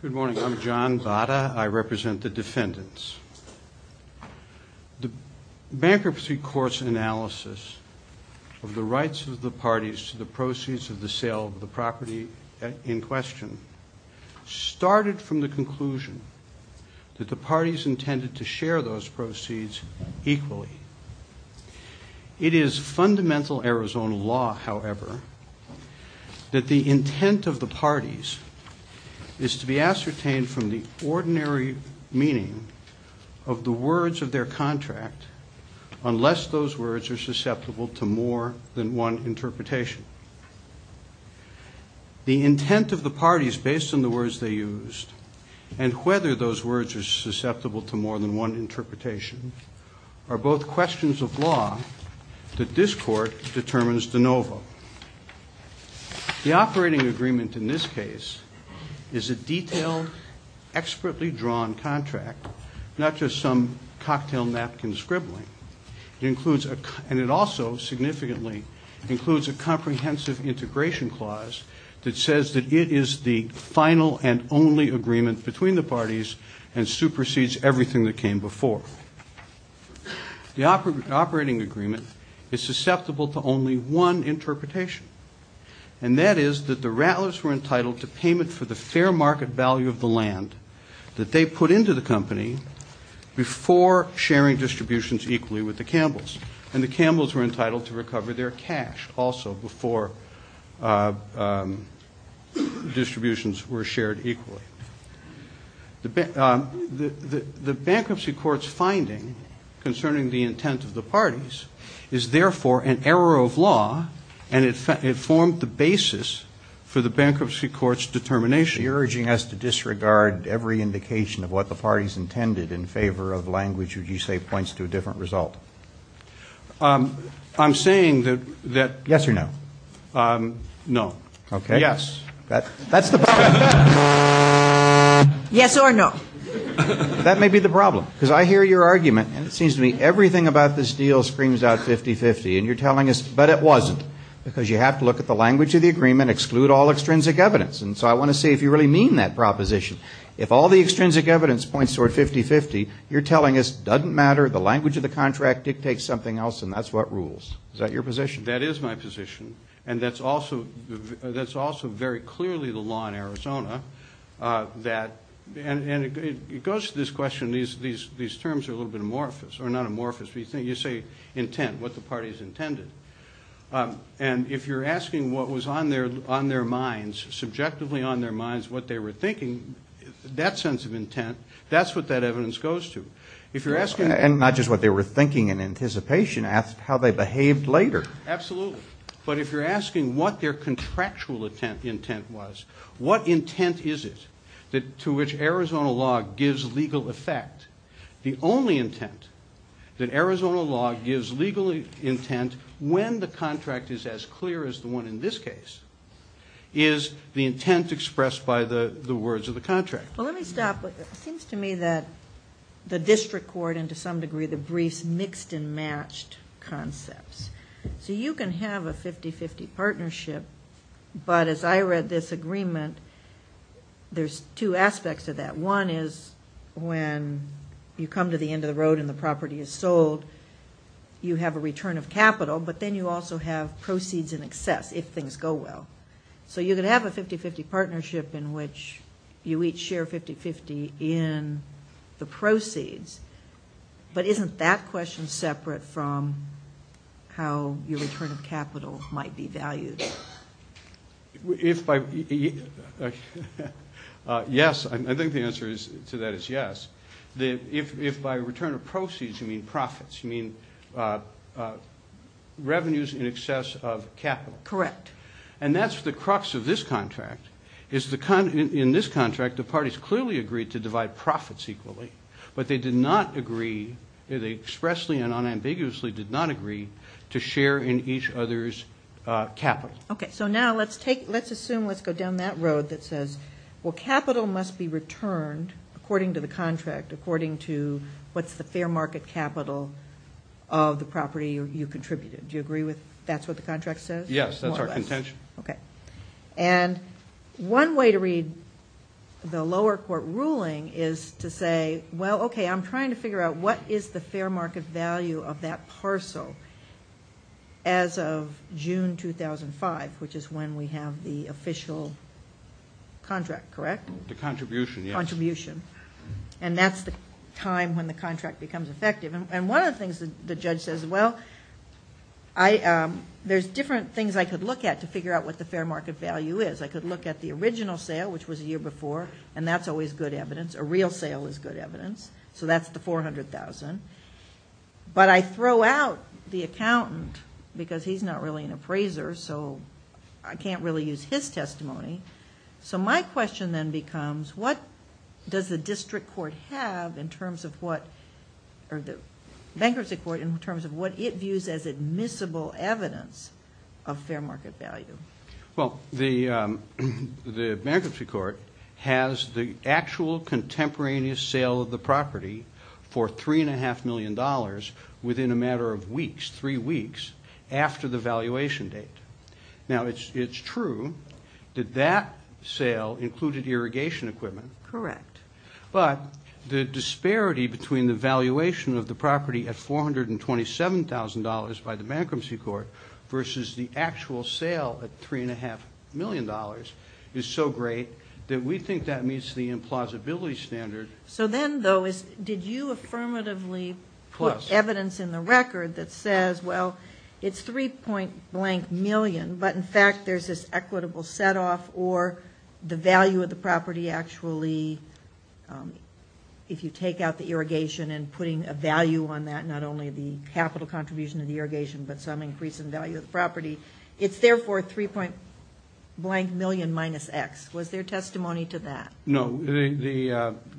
Good morning. I'm John Bata. I represent the defendants. The bankruptcy court's analysis of the rights of the parties to the proceeds of the sale of the property in question started from the conclusion that the parties intended to share those proceeds equally. It is fundamental Arizona law, however, that the intent of the parties is to be ascertained from the ordinary meaning of the words of their contract unless those words are susceptible to more than one interpretation. The intent of the parties based on the words they used and whether those words are susceptible to more than one interpretation are both questions of law that this court determines de novo. The operating agreement in this case is a detailed, expertly drawn contract, not just some cocktail napkin scribbling. It includes a comprehensive integration clause that says that it is the final and only agreement between the parties and supersedes everything that came before. The operating agreement is susceptible to only one interpretation, and that is that the Ratliffs were entitled to payment for the fair market value of the land that they put into the company before sharing distributions equally with the Campbells, and the Campbells were entitled to recover their cash also before distributions were shared equally. The bankruptcy court's finding concerning the intent of the parties is therefore an error of law, and it formed the basis for the bankruptcy court's determination. You're urging us to disregard every indication of what the parties intended in favor of language which you say points to a different result. I'm saying that yes or no. No. Okay. Yes. That's the problem. Yes or no. That may be the problem, because I hear your argument, and it seems to me everything about this deal screams out 50-50, and you're telling us, but it wasn't, because you have to look at the language of the agreement, exclude all extrinsic evidence, and so I want to see if you really mean that proposition. If all the extrinsic evidence points toward 50-50, you're telling us it doesn't matter, the language of the contract dictates something else, and that's what rules. Is that your position? That is my position, and that's also very clearly the law in Arizona. And it goes to this question, these terms are a little bit amorphous, or not amorphous, but you say intent, what the parties intended, and if you're asking what was on their minds, subjectively on their minds, what they were thinking, that sense of intent, that's what that evidence goes to. And not just what they were thinking in anticipation, ask how they behaved later. Absolutely. But if you're asking what their contractual intent was, what intent is it to which Arizona law gives legal effect, the only intent that Arizona law gives legal intent when the contract is as clear as the one in this case, is the intent expressed by the words of the contract. Well, let me stop. It seems to me that the district court, and to some degree the briefs, mixed and matched concepts. So you can have a 50-50 partnership, but as I read this agreement, there's two aspects to that. One is when you come to the end of the road and the property is sold, you have a return of capital, but then you also have proceeds in excess if things go well. So you could have a 50-50 partnership in which you each share 50-50 in the proceeds, but isn't that question separate from how your return of capital might be valued? Yes. I think the answer to that is yes. If by return of proceeds you mean profits, you mean revenues in excess of capital. Correct. And that's the crux of this contract, is in this contract the parties clearly agreed to divide profits equally, but they did not agree, they expressly and unambiguously did not agree to share in each other's capital. Okay, so now let's assume, let's go down that road that says, well capital must be returned according to the contract, according to what's the fair market capital of the property you contributed. Do you agree with that's what the contract says? Yes, that's our contention. Okay. And one way to read the lower court ruling is to say, well, okay, I'm trying to figure out what is the fair market value of that parcel as of June 2005, which is when we have the official contract, correct? The contribution, yes. Contribution. And that's the time when the contract becomes effective. And one of the things the judge says, well, there's different things I could look at to figure out what the fair market value is. I could look at the original sale, which was a year before, and that's always good evidence. A real sale is good evidence. So that's the $400,000. But I throw out the accountant because he's not really an appraiser, so I can't really use his testimony. So my question then becomes what does the district court have in terms of what, or the bankruptcy court in terms of what it views as admissible evidence of fair market value? Well, the bankruptcy court has the actual contemporaneous sale of the property for $3.5 million within a matter of weeks, three weeks, after the valuation date. Now, it's true that that sale included irrigation equipment. Correct. But the disparity between the valuation of the property at $427,000 by the bankruptcy court versus the actual sale at $3.5 million is so great that we think that meets the implausibility standard. So then, though, did you affirmatively put evidence in the record that says, well, it's 3 point blank million, but, in fact, there's this equitable setoff or the value of the property actually, if you take out the irrigation and putting a value on that, not only the capital contribution of the irrigation but some increase in value of the property, it's therefore 3 point blank million minus X. Was there testimony to that? No. The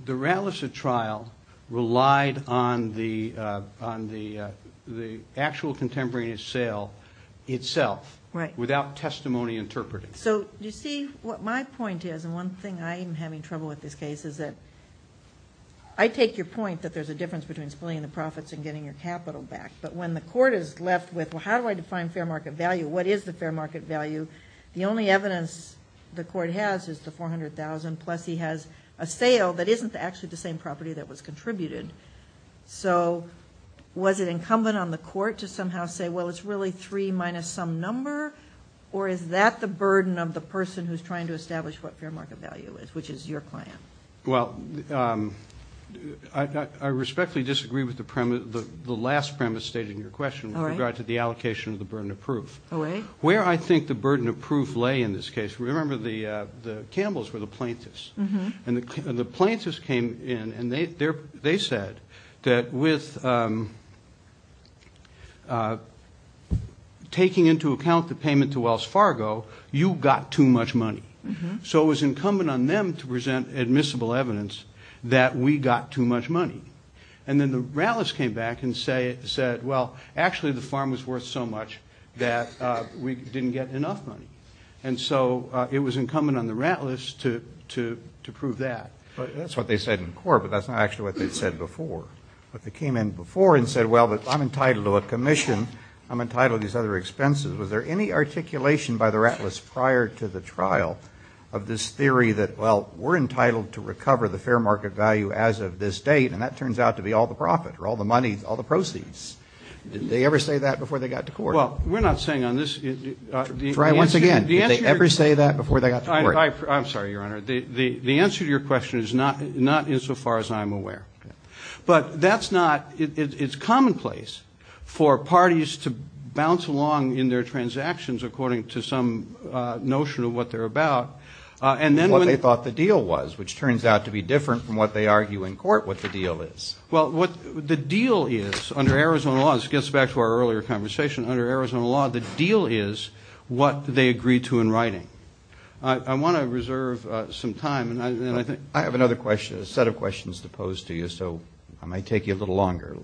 Ralliser trial relied on the actual contemporaneous sale itself. Right. Without testimony interpreting. So, you see, what my point is, and one thing I am having trouble with this case is that I take your point that there's a difference between splitting the profits and getting your capital back. But when the court is left with, well, how do I define fair market value? What is the fair market value? The only evidence the court has is the $400,000, plus he has a sale that isn't actually the same property that was contributed. So was it incumbent on the court to somehow say, well, it's really 3 minus some number, or is that the burden of the person who's trying to establish what fair market value is, which is your client? Well, I respectfully disagree with the premise, the last premise stated in your question with regard to the allocation of the burden of proof. Oh, really? Where I think the burden of proof lay in this case, remember the Campbells were the plaintiffs. And the plaintiffs came in and they said that with taking into account the payment to Wells Fargo, you got too much money. So it was incumbent on them to present admissible evidence that we got too much money. And then the Rattlers came back and said, well, actually the farm was worth so much that we didn't get enough money. And so it was incumbent on the Rattlers to prove that. That's what they said in court, but that's not actually what they said before. But they came in before and said, well, I'm entitled to a commission, I'm entitled to these other expenses. Was there any articulation by the Rattlers prior to the trial of this theory that, well, we're entitled to recover the fair market value as of this date and that turns out to be all the profit or all the money, all the proceeds? Did they ever say that before they got to court? Well, we're not saying on this. Try once again. Did they ever say that before they got to court? I'm sorry, Your Honor. The answer to your question is not insofar as I'm aware. But that's not, it's commonplace for parties to bounce along in their transactions according to some notion of what they're about. What they thought the deal was, which turns out to be different from what they argue in court what the deal is. Well, what the deal is under Arizona law, this gets back to our earlier conversation, under Arizona law, the deal is what they agreed to in writing. I want to reserve some time. I have another question, a set of questions to pose to you, so I might take you a little longer.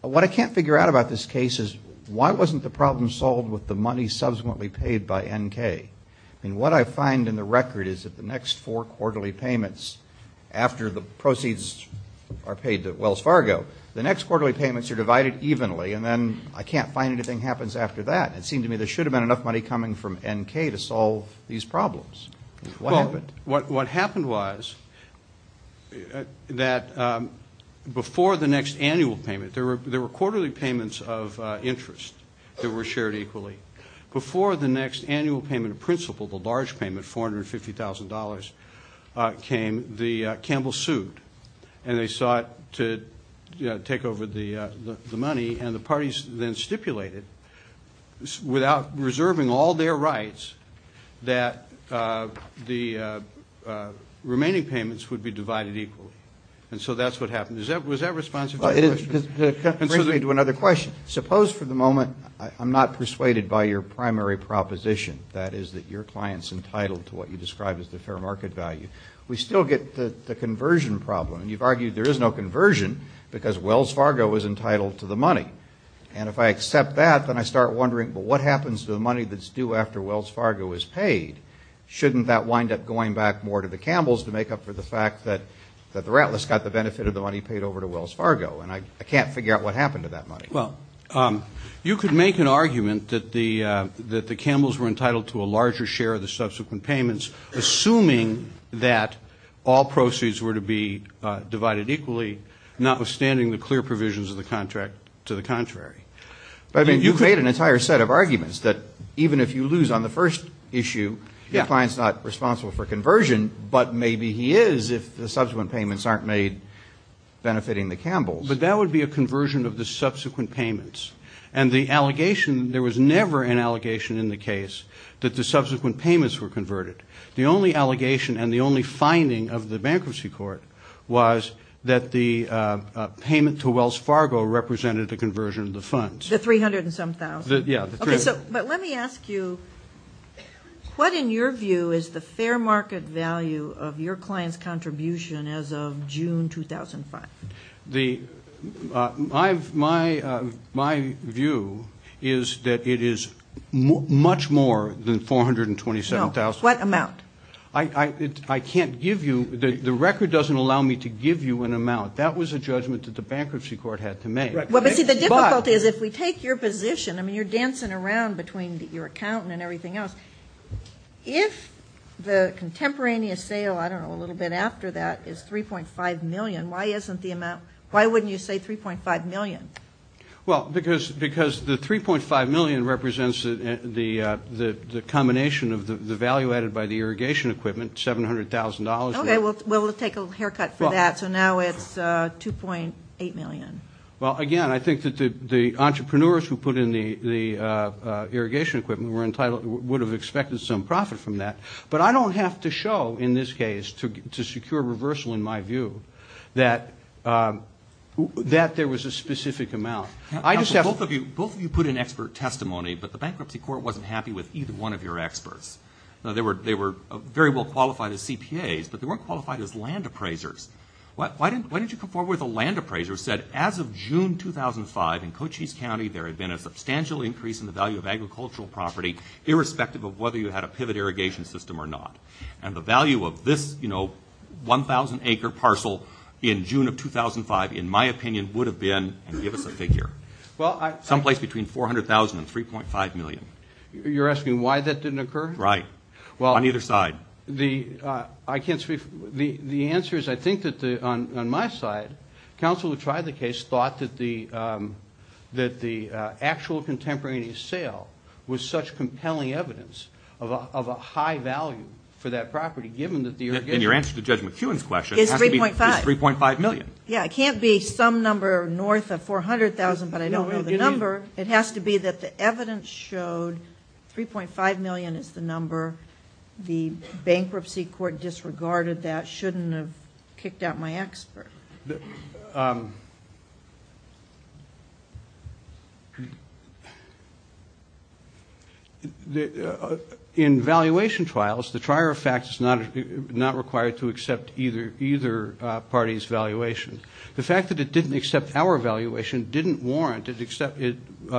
What I can't figure out about this case is why wasn't the problem solved with the money subsequently paid by N.K.? I mean, what I find in the record is that the next four quarterly payments after the proceeds are paid to Wells Fargo, the next quarterly payments are divided evenly and then I can't find anything happens after that. It seemed to me there should have been enough money coming from N.K. to solve these problems. Well, what happened was that before the next annual payment, there were quarterly payments of interest that were shared equally. Before the next annual payment of principal, the large payment, $450,000, came, the Campbells sued, and they sought to take over the money, and the parties then stipulated, without reserving all their rights, that the remaining payments would be divided equally. And so that's what happened. Was that responsive to your question? It brings me to another question. Suppose for the moment, I'm not persuaded by your primary proposition, that is that your client's entitled to what you describe as the fair market value. We still get the conversion problem, and you've argued there is no conversion because Wells Fargo is entitled to the money. And if I accept that, then I start wondering, well, what happens to the money that's due after Wells Fargo is paid? Shouldn't that wind up going back more to the Campbells to make up for the fact that the Rattlers got the benefit of the money paid over to Wells Fargo? And I can't figure out what happened to that money. Well, you could make an argument that the Campbells were entitled to a larger share of the subsequent payments, assuming that all proceeds were to be divided equally, notwithstanding the clear provisions of the contract to the contrary. But, I mean, you create an entire set of arguments that even if you lose on the first issue, your client's not responsible for conversion, but maybe he is if the subsequent payments aren't made benefiting the Campbells. But that would be a conversion of the subsequent payments. And the allegation, there was never an allegation in the case that the subsequent payments were converted. The only allegation and the only finding of the bankruptcy court was that the payment to Wells Fargo represented a conversion of the funds. The 300 and some thousand? Yeah. Okay, but let me ask you, what in your view is the fair market value of your client's contribution as of June 2005? My view is that it is much more than 427,000. What amount? I can't give you, the record doesn't allow me to give you an amount. That was a judgment that the bankruptcy court had to make. Well, but see, the difficulty is if we take your position, I mean, you're dancing around between your accountant and everything else. If the contemporaneous sale, I don't know, a little bit after that is 3.5 million, why isn't the amount, why wouldn't you say 3.5 million? Well, it was provided by the irrigation equipment, $700,000. Okay, we'll take a haircut for that. So now it's 2.8 million. Well, again, I think that the entrepreneurs who put in the irrigation equipment would have expected some profit from that. But I don't have to show in this case to secure reversal in my view that there was a specific amount. Both of you put in expert testimony, but the bankruptcy court wasn't happy with either one of your experts. They were very well qualified as CPAs, but they weren't qualified as land appraisers. Why didn't you come forward with a land appraiser who said as of June 2005 in Cochise County, there had been a substantial increase in the value of agricultural property, irrespective of whether you had a pivot irrigation system or not. And the value of this, you know, 1,000-acre parcel in June of 2005, in my opinion, would have been, and give us a figure, some place between 400,000 and 3.5 million. You're asking why that didn't occur? Right. On either side. Well, the answer is I think that on my side, counsel who tried the case thought that the actual contemporaneous sale was such compelling evidence of a high value for that property, given that the irrigation equipment. And your answer to Judge McEwen's question is 3.5 million. Yeah, it can't be some number north of 400,000, but I don't know the number. It has to be that the evidence showed 3.5 million is the number. The bankruptcy court disregarded that, shouldn't have kicked out my expert. In valuation trials, the trier of facts is not required to accept either party's valuation. The fact that it didn't accept our valuation didn't warrant it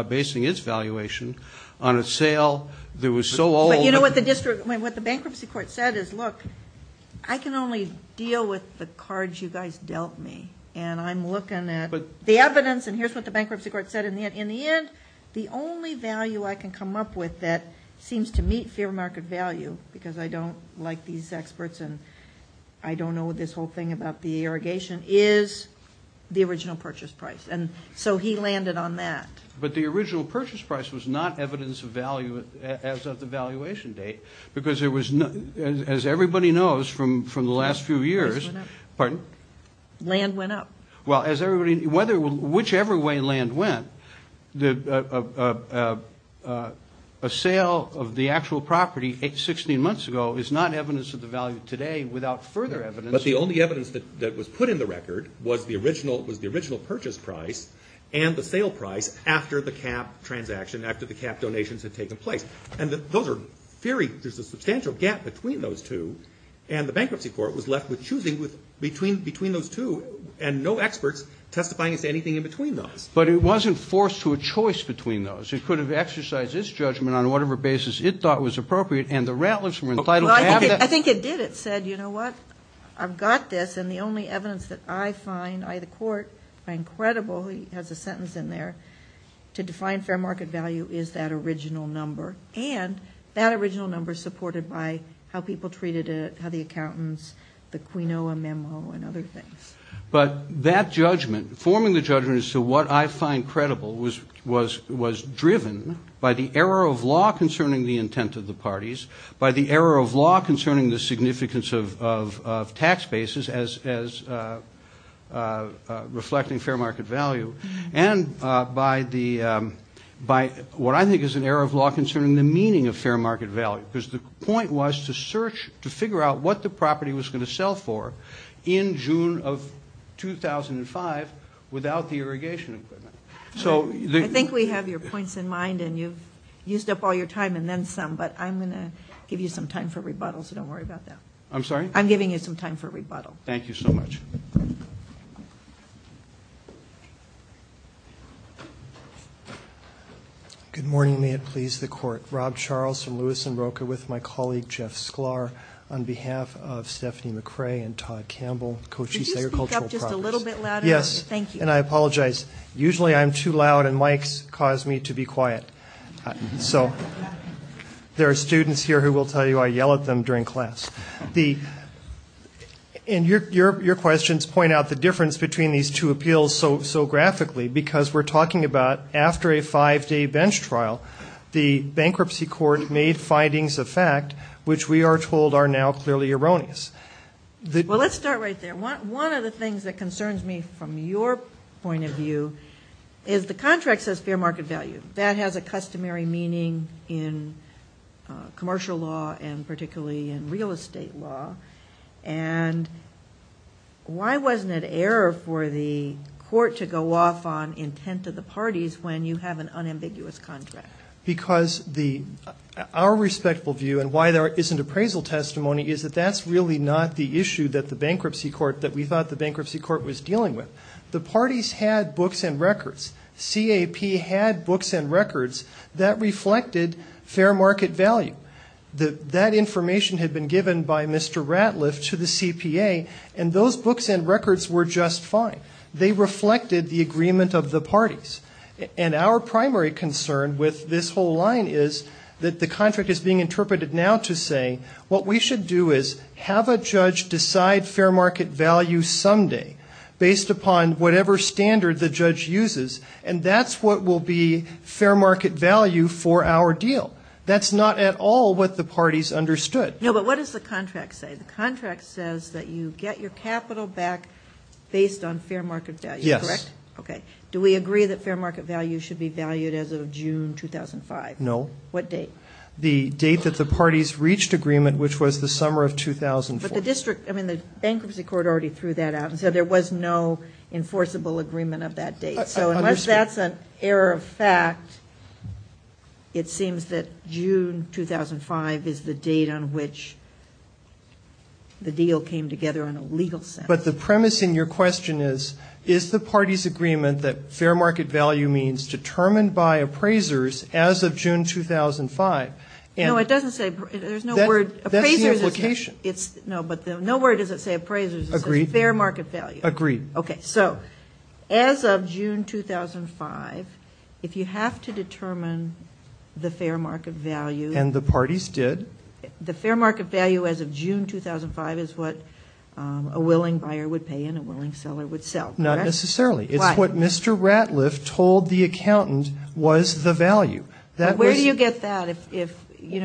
basing its valuation on a sale that was so old that... But you know what the bankruptcy court said is, look, I can only deal with the cards you guys dealt me. And I'm looking at the evidence, and here's what the bankruptcy court said. In the end, the only value I can come up with that seems to meet fair market value, because I don't like these experts and I don't know this whole thing about the irrigation, is the original purchase price. And so he landed on that. But the original purchase price was not evidence of value as of the valuation date, because there was, as everybody knows from the last few years... Well, as everybody, whichever way land went, a sale of the actual property 16 months ago is not evidence of the value today without further evidence. But the only evidence that was put in the record was the original purchase price and the sale price after the cap transaction, after the cap donations had taken place. And those are very, there's a substantial gap between those two. And the bankruptcy court was left with choosing between those two, and no experts testifying as to anything in between those. But it wasn't forced to a choice between those. It could have exercised its judgment on whatever basis it thought was appropriate, and the Rantlers were entitled to have that. Well, I think it did. It said, you know what, I've got this, and the only evidence that I find, I, the court, by incredible, he has a sentence in there, to define fair market value is that original number. And that original number is supported by how people treated it, how the accountants, the Quinoa memo and other things. But that judgment, forming the judgment as to what I find credible was driven by the error of law concerning the intent of the parties, by the error of law concerning the significance of tax bases as reflecting fair market value, and by the, by what I think is an error of law concerning the meaning of fair market value. Because the point was to search, to figure out what the property was going to sell for in June of 2005 without the irrigation equipment. I think we have your points in mind, and you've used up all your time, and then some. But I'm going to give you some time for rebuttal, so don't worry about that. I'm sorry? I'm giving you some time for rebuttal. Thank you so much. Good morning, may it please the court. Rob Charles from Lewis & Broca with my colleague Jeff Sklar on behalf of Stephanie McRae and Todd Campbell, Cochise Agricultural Products. Could you speak up just a little bit louder? Yes, and I apologize. Usually I'm too loud, and mics cause me to be quiet. So there are students here who will tell you I yell at them during class. And your questions point out the difference between these two appeals so graphically, because we're talking about after a five-day bench trial, the bankruptcy court made findings of fact which we are told are now clearly erroneous. Well, let's start right there. One of the things that concerns me from your point of view is the contract says fair market value. That has a customary meaning in commercial law, and particularly in real estate law. And why wasn't it error for the court to go off on intent of the parties when you have an unambiguous contract? Because our respectful view and why there isn't appraisal testimony is that that's really not the issue that we thought the bankruptcy court was dealing with. The parties had books and records. CAP had books and records that reflected fair market value. That information had been given by Mr. Ratliff to the CPA, and those books and records were just fine. They reflected the agreement of the parties. And our primary concern with this whole line is that the contract is being interpreted now to say what we should do is have a judge decide fair market value someday, based upon whatever standard the judge uses, and that's what will be fair market value for our deal. That's not at all what the parties understood. No, but what does the contract say? The contract says that you get your capital back based on fair market value, correct? Yes. Okay. Do we agree that fair market value should be valued as of June 2005? No. What date? The date that the parties reached agreement, which was the summer of 2004. But the bankruptcy court already threw that out and said there was no enforceable agreement of that date. I understand. So unless that's an error of fact, it seems that June 2005 is the date on which the deal came together in a legal sense. No, it doesn't say. There's no word. That's the implication. No, but no word does it say appraisers. It says fair market value. Agreed. Okay. So as of June 2005, if you have to determine the fair market value as of June 2005 is what a willing buyer would pay and a willing seller would sell. I disagree with that.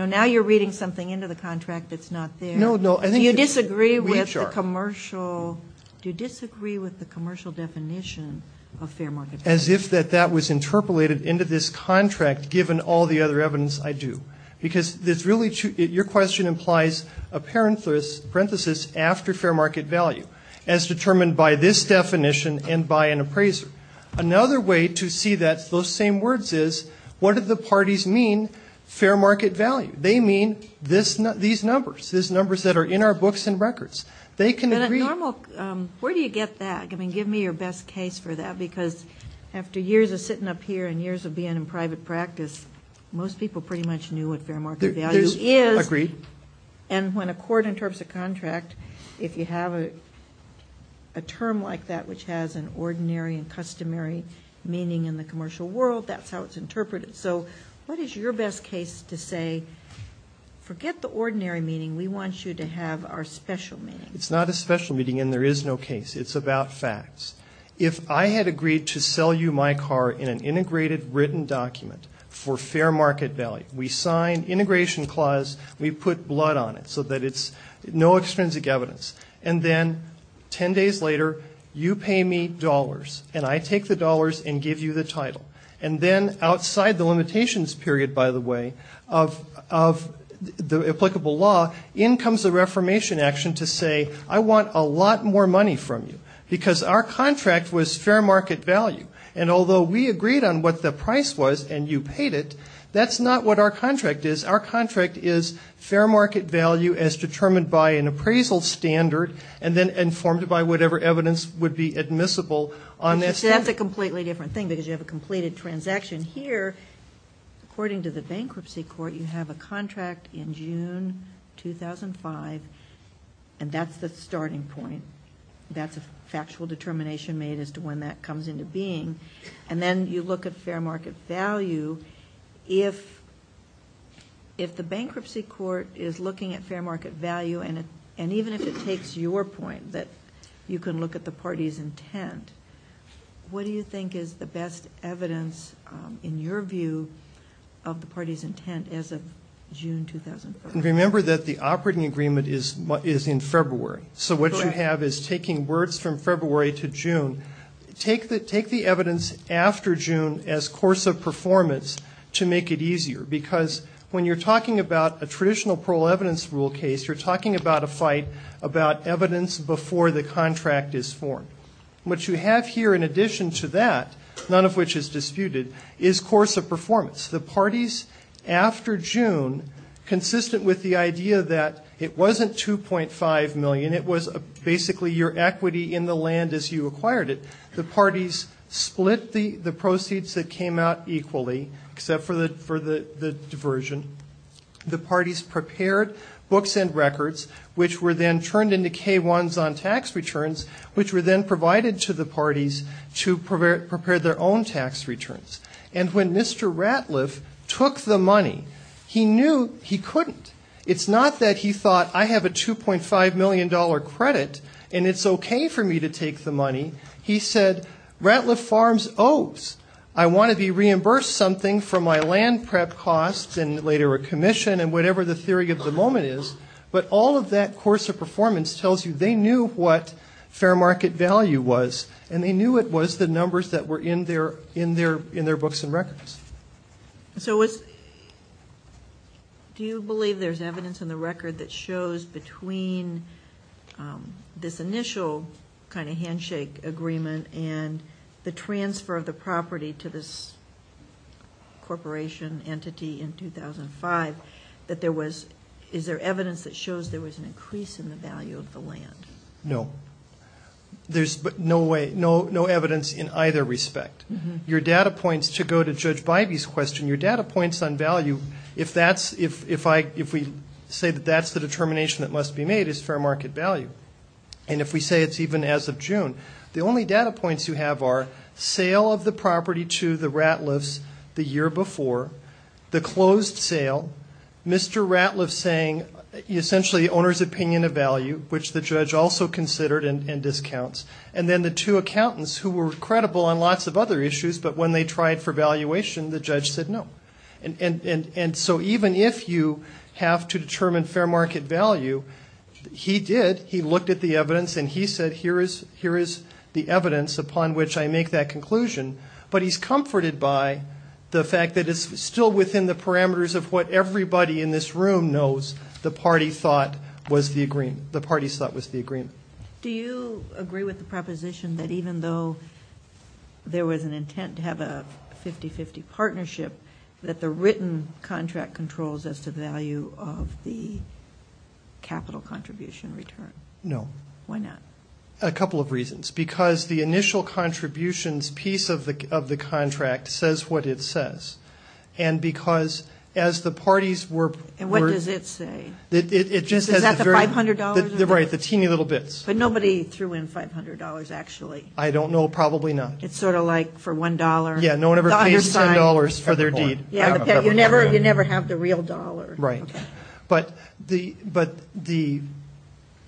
Now you're reading something into the contract that's not there. Do you disagree with the commercial definition of fair market value? As if that that was interpolated into this contract given all the other evidence I do. Because your question implies a parenthesis after fair market value as determined by this definition and by an appraiser. Fair market value. They mean these numbers. These numbers that are in our books and records. They can agree. Where do you get that? I mean, give me your best case for that. Because after years of sitting up here and years of being in private practice, most people pretty much knew what fair market value is. Agreed. And when a court interprets a contract, if you have a term like that which has an ordinary and customary meaning in the commercial world, that's how it's interpreted. So what is your best case to say forget the ordinary meaning. We want you to have our special meaning. It's not a special meaning and there is no case. It's about facts. If I had agreed to sell you my car in an integrated written document for fair market value, we sign integration clause, we put blood on it so that it's no extrinsic evidence. And then ten days later you pay me dollars and I take the dollars and give you the title. And then outside the limitations period, by the way, of the applicable law, in comes the reformation action to say I want a lot more money from you. Because our contract was fair market value. And although we agreed on what the price was and you paid it, that's not what our contract is. Our contract is fair market value as determined by an appraisal standard and then informed by whatever evidence would be admissible on that standard. That's a completely different thing because you have a completed transaction here. According to the bankruptcy court, you have a contract in June 2005 and that's the starting point. That's a factual determination made as to when that comes into being. And then you look at fair market value. If the bankruptcy court is looking at fair market value and even if it takes your point that you can look at the party's intent, what do you think is the best evidence in your view of the party's intent as of June 2005? Remember that the operating agreement is in February. So what you have is taking words from February to June. Take the evidence after June as course of performance to make it easier. Because when you're talking about a traditional parole evidence rule case, you're talking about a fight about evidence before the contract is formed. What you have here in addition to that, none of which is disputed, is course of performance. The parties after June, consistent with the idea that it wasn't $2.5 million. And it was basically your equity in the land as you acquired it. The parties split the proceeds that came out equally, except for the diversion. The parties prepared books and records, which were then turned into K-1s on tax returns, which were then provided to the parties to prepare their own tax returns. And when Mr. Ratliff took the money, he knew he couldn't. It's not that he thought, I have a $2.5 million credit, and it's okay for me to take the money. He said, Ratliff Farms owes. I want to be reimbursed something for my land prep costs and later a commission and whatever the theory of the moment is. But all of that course of performance tells you they knew what fair market value was. And they knew it was the numbers that were in their books and records. So do you believe there's evidence in the record that shows between this initial kind of handshake agreement and the transfer of the property to this corporation entity in 2005 that there was, is there evidence that shows there was an increase in the value of the land? No. There's no evidence in either respect. Your data points, to go to Judge Bivey's question, your data points on value, if we say that that's the determination that must be made, is fair market value. And if we say it's even as of June, the only data points you have are sale of the property to the Ratliffs the year before, the closed sale, Mr. Ratliff saying essentially owner's opinion of value, which the judge also considered and discounts, and then the two accountants who were credible on lots of other issues, but when they tried for valuation, the judge said no. And so even if you have to determine fair market value, he did. He looked at the evidence and he said here is the evidence upon which I make that conclusion. But he's comforted by the fact that it's still within the parameters of what everybody in this room knows the party thought was the agreement, Do you agree with the proposition that even though there was an intent to have a 50-50 partnership, that the written contract controls as to the value of the capital contribution return? No. Why not? A couple of reasons. Because the initial contributions piece of the contract says what it says. And because as the parties were... And what does it say? Is that the $500? Right, the teeny little bits. But nobody threw in $500 actually. I don't know, probably not. It's sort of like for $1. You never have the real dollar. But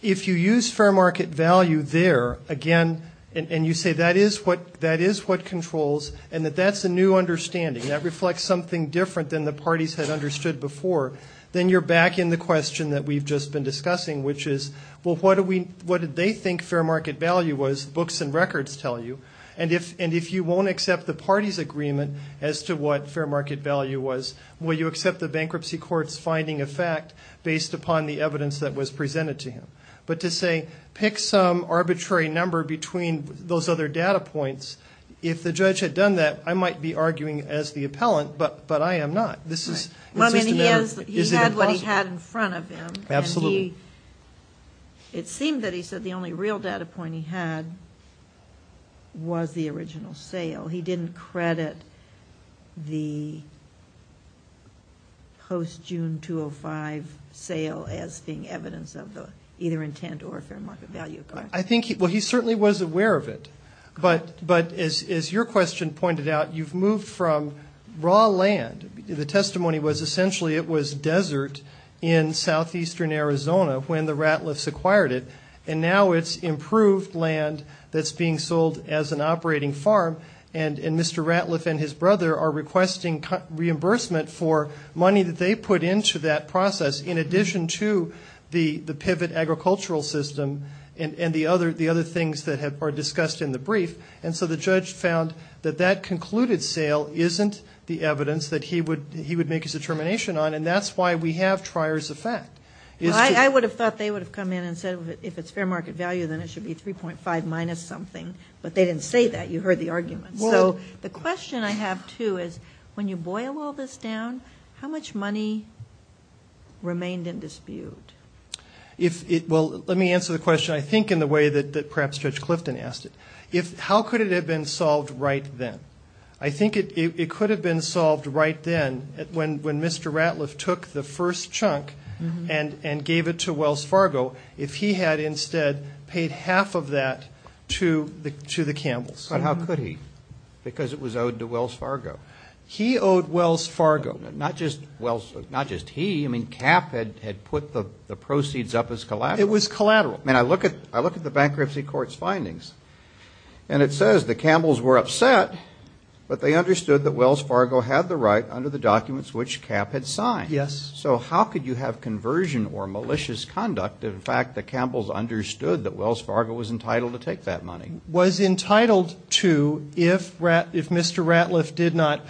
if you use fair market value there, again, and you say that is what controls and that that's a new understanding, that reflects something different than the parties had understood before, then you're back in the question that we've just been discussing, which is, well, what did they think fair market value was? Books and records tell you. And if you won't accept the parties' agreement as to what fair market value was, will you accept the bankruptcy court's finding of fact based upon the evidence that was presented to him? But to say pick some arbitrary number between those other data points, if the judge had done that, I might be arguing as the appellant, but I am not. He had what he had in front of him. It seemed that he said the only real data point he had was the original sale. He didn't credit the post-June 205 sale as being evidence of either intent or fair market value. Well, he certainly was aware of it. But as your question pointed out, you've moved from raw land. The testimony was essentially it was desert in southeastern Arizona when the Ratliffs acquired it. And now it's improved land that's being sold as an operating farm, and Mr. Ratliff and his brother are requesting reimbursement for money that they put into that process, in addition to the pivot agricultural system and the other things that are discussed in the brief. And so the judge found that that concluded sale isn't the evidence that he would make his determination on, and that's why we have trier's effect. I would have thought they would have come in and said if it's fair market value, then it should be 3.5 minus something. But they didn't say that. You heard the argument. So the question I have, too, is when you boil all this down, how much money remained in dispute? Well, let me answer the question I think in the way that perhaps Judge Clifton asked it. How could it have been solved right then? I think it could have been solved right then when Mr. Ratliff took the first chunk and gave it to Wells Fargo, if he had instead paid half of that to the Campbells. But how could he? Because it was owed to Wells Fargo. He owed Wells Fargo. Not just he. I mean, Cap had put the proceeds up as collateral. And Mr. Ratliff did not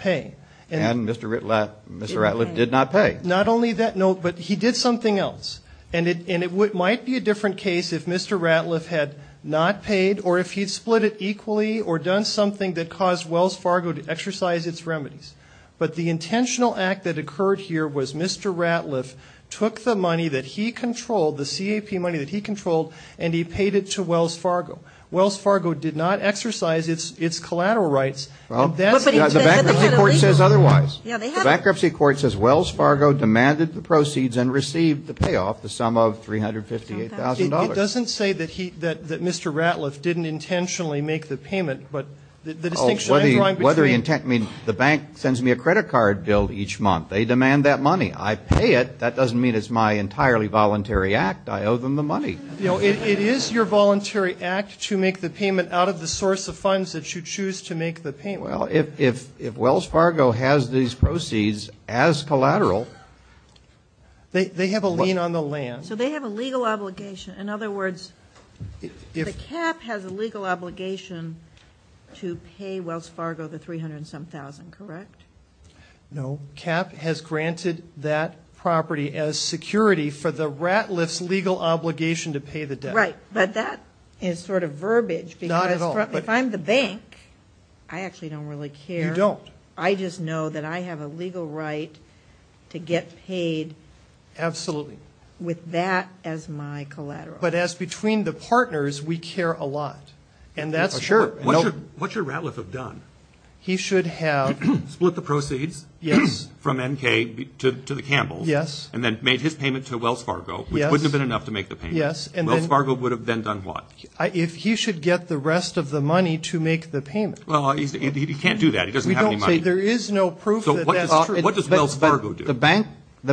pay. Not only that, no, but he did something else. And it might be a different case if Mr. Ratliff had not paid or if he'd split it equally or done something that caused Wells Fargo to exercise its remedies. But the intentional act that occurred here was Mr. Ratliff took the money that he controlled, the CAP money that he controlled, and he paid it to Wells Fargo. Wells Fargo did not exercise its collateral rights. The bankruptcy court says otherwise. The bankruptcy court says Wells Fargo demanded the proceeds and received the payoff, the sum of $358,000. It doesn't say that he, that Mr. Ratliff didn't intentionally make the payment, but the distinction I'm drawing between. Whether he, I mean, the bank sends me a credit card bill each month. They demand that money. I pay it. That doesn't mean it's my entirely voluntary act. I owe them the money. It is your voluntary act to make the payment out of the source of funds that you choose to make the payment. Well, if Wells Fargo has these proceeds as collateral. They have a lien on the land. So they have a legal obligation. In other words, the CAP has a legal obligation to pay Wells Fargo the $300,000, correct? No, CAP has granted that property as security for the Ratliff's legal obligation to pay the debt. Right. But that is sort of verbiage because if I'm the bank, I actually don't really care. You don't. I just know that I have a legal right to get paid with that as my collateral. But as between the partners, we care a lot. What should Ratliff have done? Split the proceeds from N.K. to the Campbells. And then made his payment to Wells Fargo, which wouldn't have been enough to make the payment. Wells Fargo would have then done what? He should get the rest of the money to make the payment. Well, he can't do that. The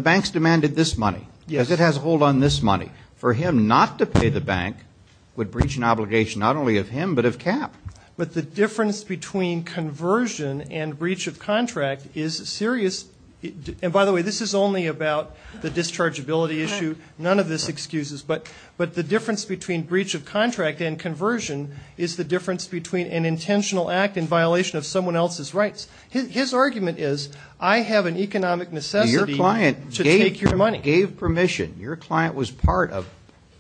banks demanded this money because it has a hold on this money. For him not to pay the bank would breach an obligation not only of him but of CAP. But the difference between conversion and breach of contract is serious. And by the way, this is only about the dischargeability issue. None of this excuses. But the difference between breach of contract and conversion is the difference between an intentional act in violation of someone else's rights. His argument is I have an economic necessity to take your money. Your client gave permission. Your client was part of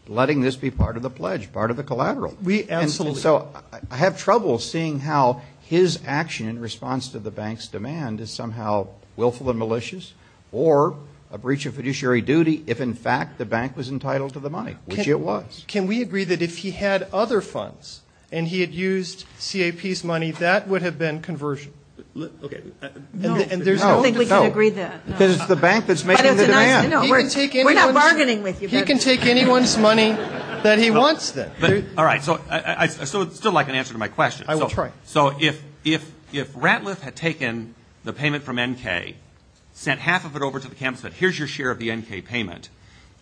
letting this be part of the pledge, part of the collateral. And so I have trouble seeing how his action in response to the bank's demand is somehow willful and malicious or a breach of fiduciary duty if in fact the bank was entitled to the money, which it was. Can we agree that if he had other funds and he had used CAP's money, that would have been conversion? No. I don't think we can agree that. Because it's the bank that's making the demand. We're not bargaining with you. He can take anyone's money that he wants. All right. So I'd still like an answer to my question. I will try. So if Ratliff had taken the payment from N.K., sent half of it over to the campus and said here's your share of the N.K. payment,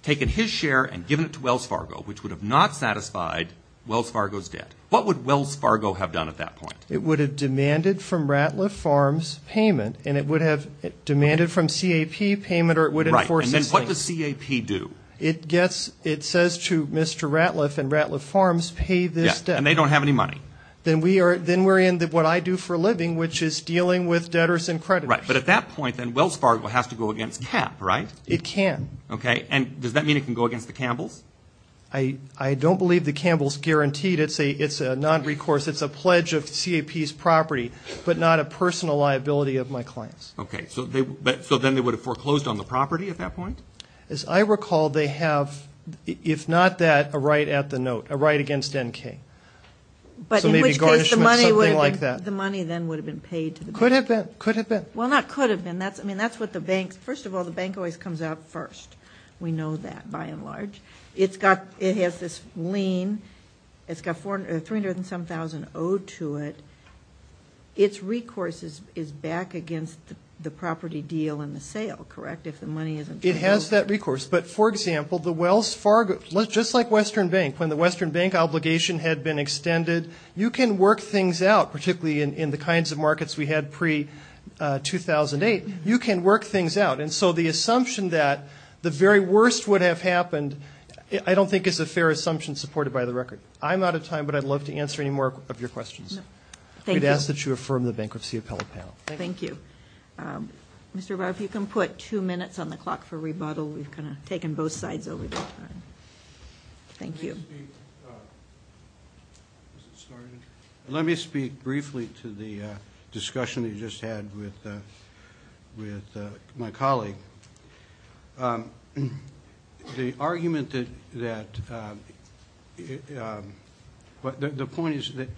taken his share and given it to Wells Fargo, which would have not satisfied Wells Fargo's debt, what would Wells Fargo have done at that point? It would have demanded from Ratliff Farms payment and it would have demanded from CAP payment or it would have enforced. And then what does CAP do? It says to Mr. Ratliff and Ratliff Farms pay this debt. And they don't have any money. Then we're in what I do for a living, which is dealing with debtors and creditors. Right. But at that point, then Wells Fargo has to go against CAP, right? It can. Okay. And does that mean it can go against the Campbells? I don't believe the Campbells guaranteed. It's a non-recourse. It's a pledge of CAP's property, but not a personal liability of my clients. Okay. So then they would have foreclosed on the property at that point? As I recall, they have, if not that, a right at the note, a right against N.K. So maybe garnishment, something like that. The money then would have been paid to the bank. Could have been. Could have been. Well, not could have been. First of all, the bank always comes out first. We know that, by and large. It has this lien. It's got $307,000 owed to it. Its recourse is back against the property deal and the sale, correct, if the money isn't true? It has that recourse. But, for example, the Wells Fargo, just like Western Bank, when the Western Bank obligation had been extended, you can work things out, particularly in the kinds of markets we had pre-2008. You can work things out. And so the assumption that the very worst would have happened, I don't think is a fair assumption supported by the record. I'm out of time, but I'd love to answer any more of your questions. We'd ask that you affirm the bankruptcy appellate panel. Thank you. Mr. Barr, if you can put two minutes on the clock for rebuttal. We've kind of taken both sides over the time. Thank you. Let me speak briefly to the discussion that you just had with my colleague. The argument that, the point is, if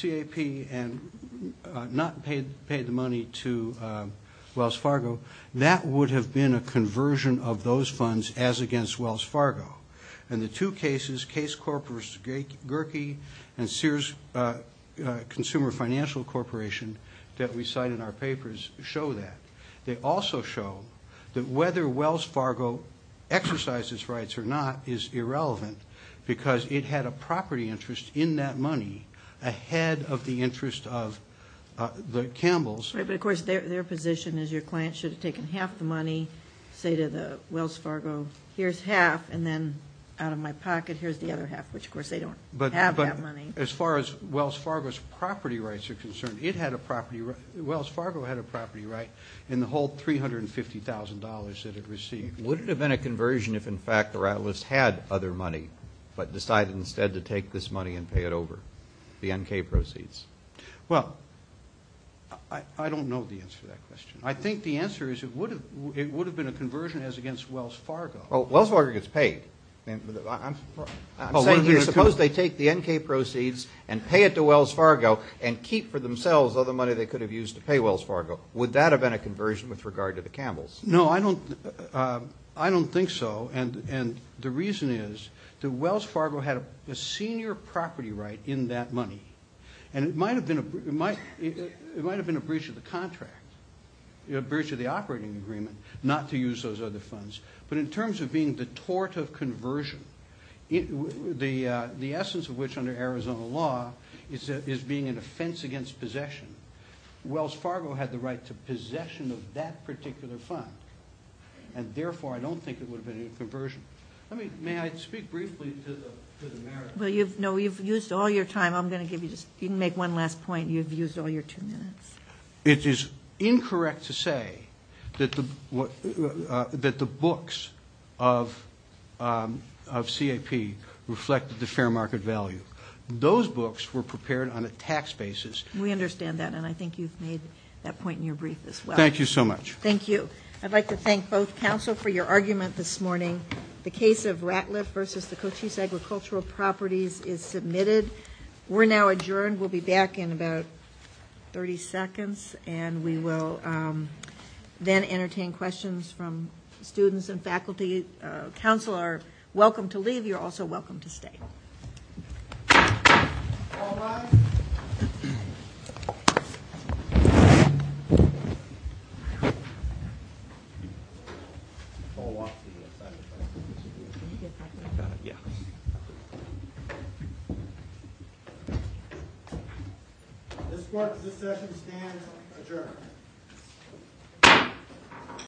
the CAP had not paid the money to Wells Fargo, that would have been a conversion of those funds as against Wells Fargo. And the two cases, Case Corporation and Sears Consumer Financial Corporation, that we cite in our papers, show that. They also show that whether Wells Fargo exercised its rights or not is irrelevant, because it had a property interest in that money ahead of the interest of the Campbells. Right, but of course their position is your client should have taken half the money, say to the Wells Fargo, here's half, and then out of my pocket here's the other half, which of course they don't have that money. But as far as Wells Fargo's property rights are concerned, Wells Fargo had a property right in the whole $350,000 that it received. Would it have been a conversion if in fact the Rattlers had other money, but decided instead to take this money and pay it over, the N.K. proceeds? Well, I don't know the answer to that question. I think the answer is it would have been a conversion as against Wells Fargo. Well, Wells Fargo gets paid. I'm saying here, suppose they take the N.K. proceeds and pay it to Wells Fargo and keep for themselves other money they could have used to pay Wells Fargo. Would that have been a conversion with regard to the Campbells? No, I don't think so, and the reason is that Wells Fargo had a senior property right in that money, and it might have been a breach of the contract, a breach of the operating agreement, not to use those other funds, but in terms of being the tort of conversion, the essence of which under Arizona law is being an offense against possession, Wells Fargo had the right to possession of that particular fund, and therefore I don't think it would have been a conversion. May I speak briefly to the merits? Well, no, you've used all your time. I'm going to give you just one last point. You've used all your two minutes. It is incorrect to say that the books of CAP reflected the fair market value. Those books were prepared on a tax basis. We understand that, and I think you've made that point in your brief as well. Thank you so much. Thank you. I'd like to thank both counsel for your argument this morning. The case of Ratliff versus the Cochise Agricultural Properties is submitted. We're now adjourned. We'll be back in about 30 seconds, and we will then entertain questions from students and faculty. Counsel are welcome to leave. You're also welcome to stay. All rise. This court, at this session, stands adjourned.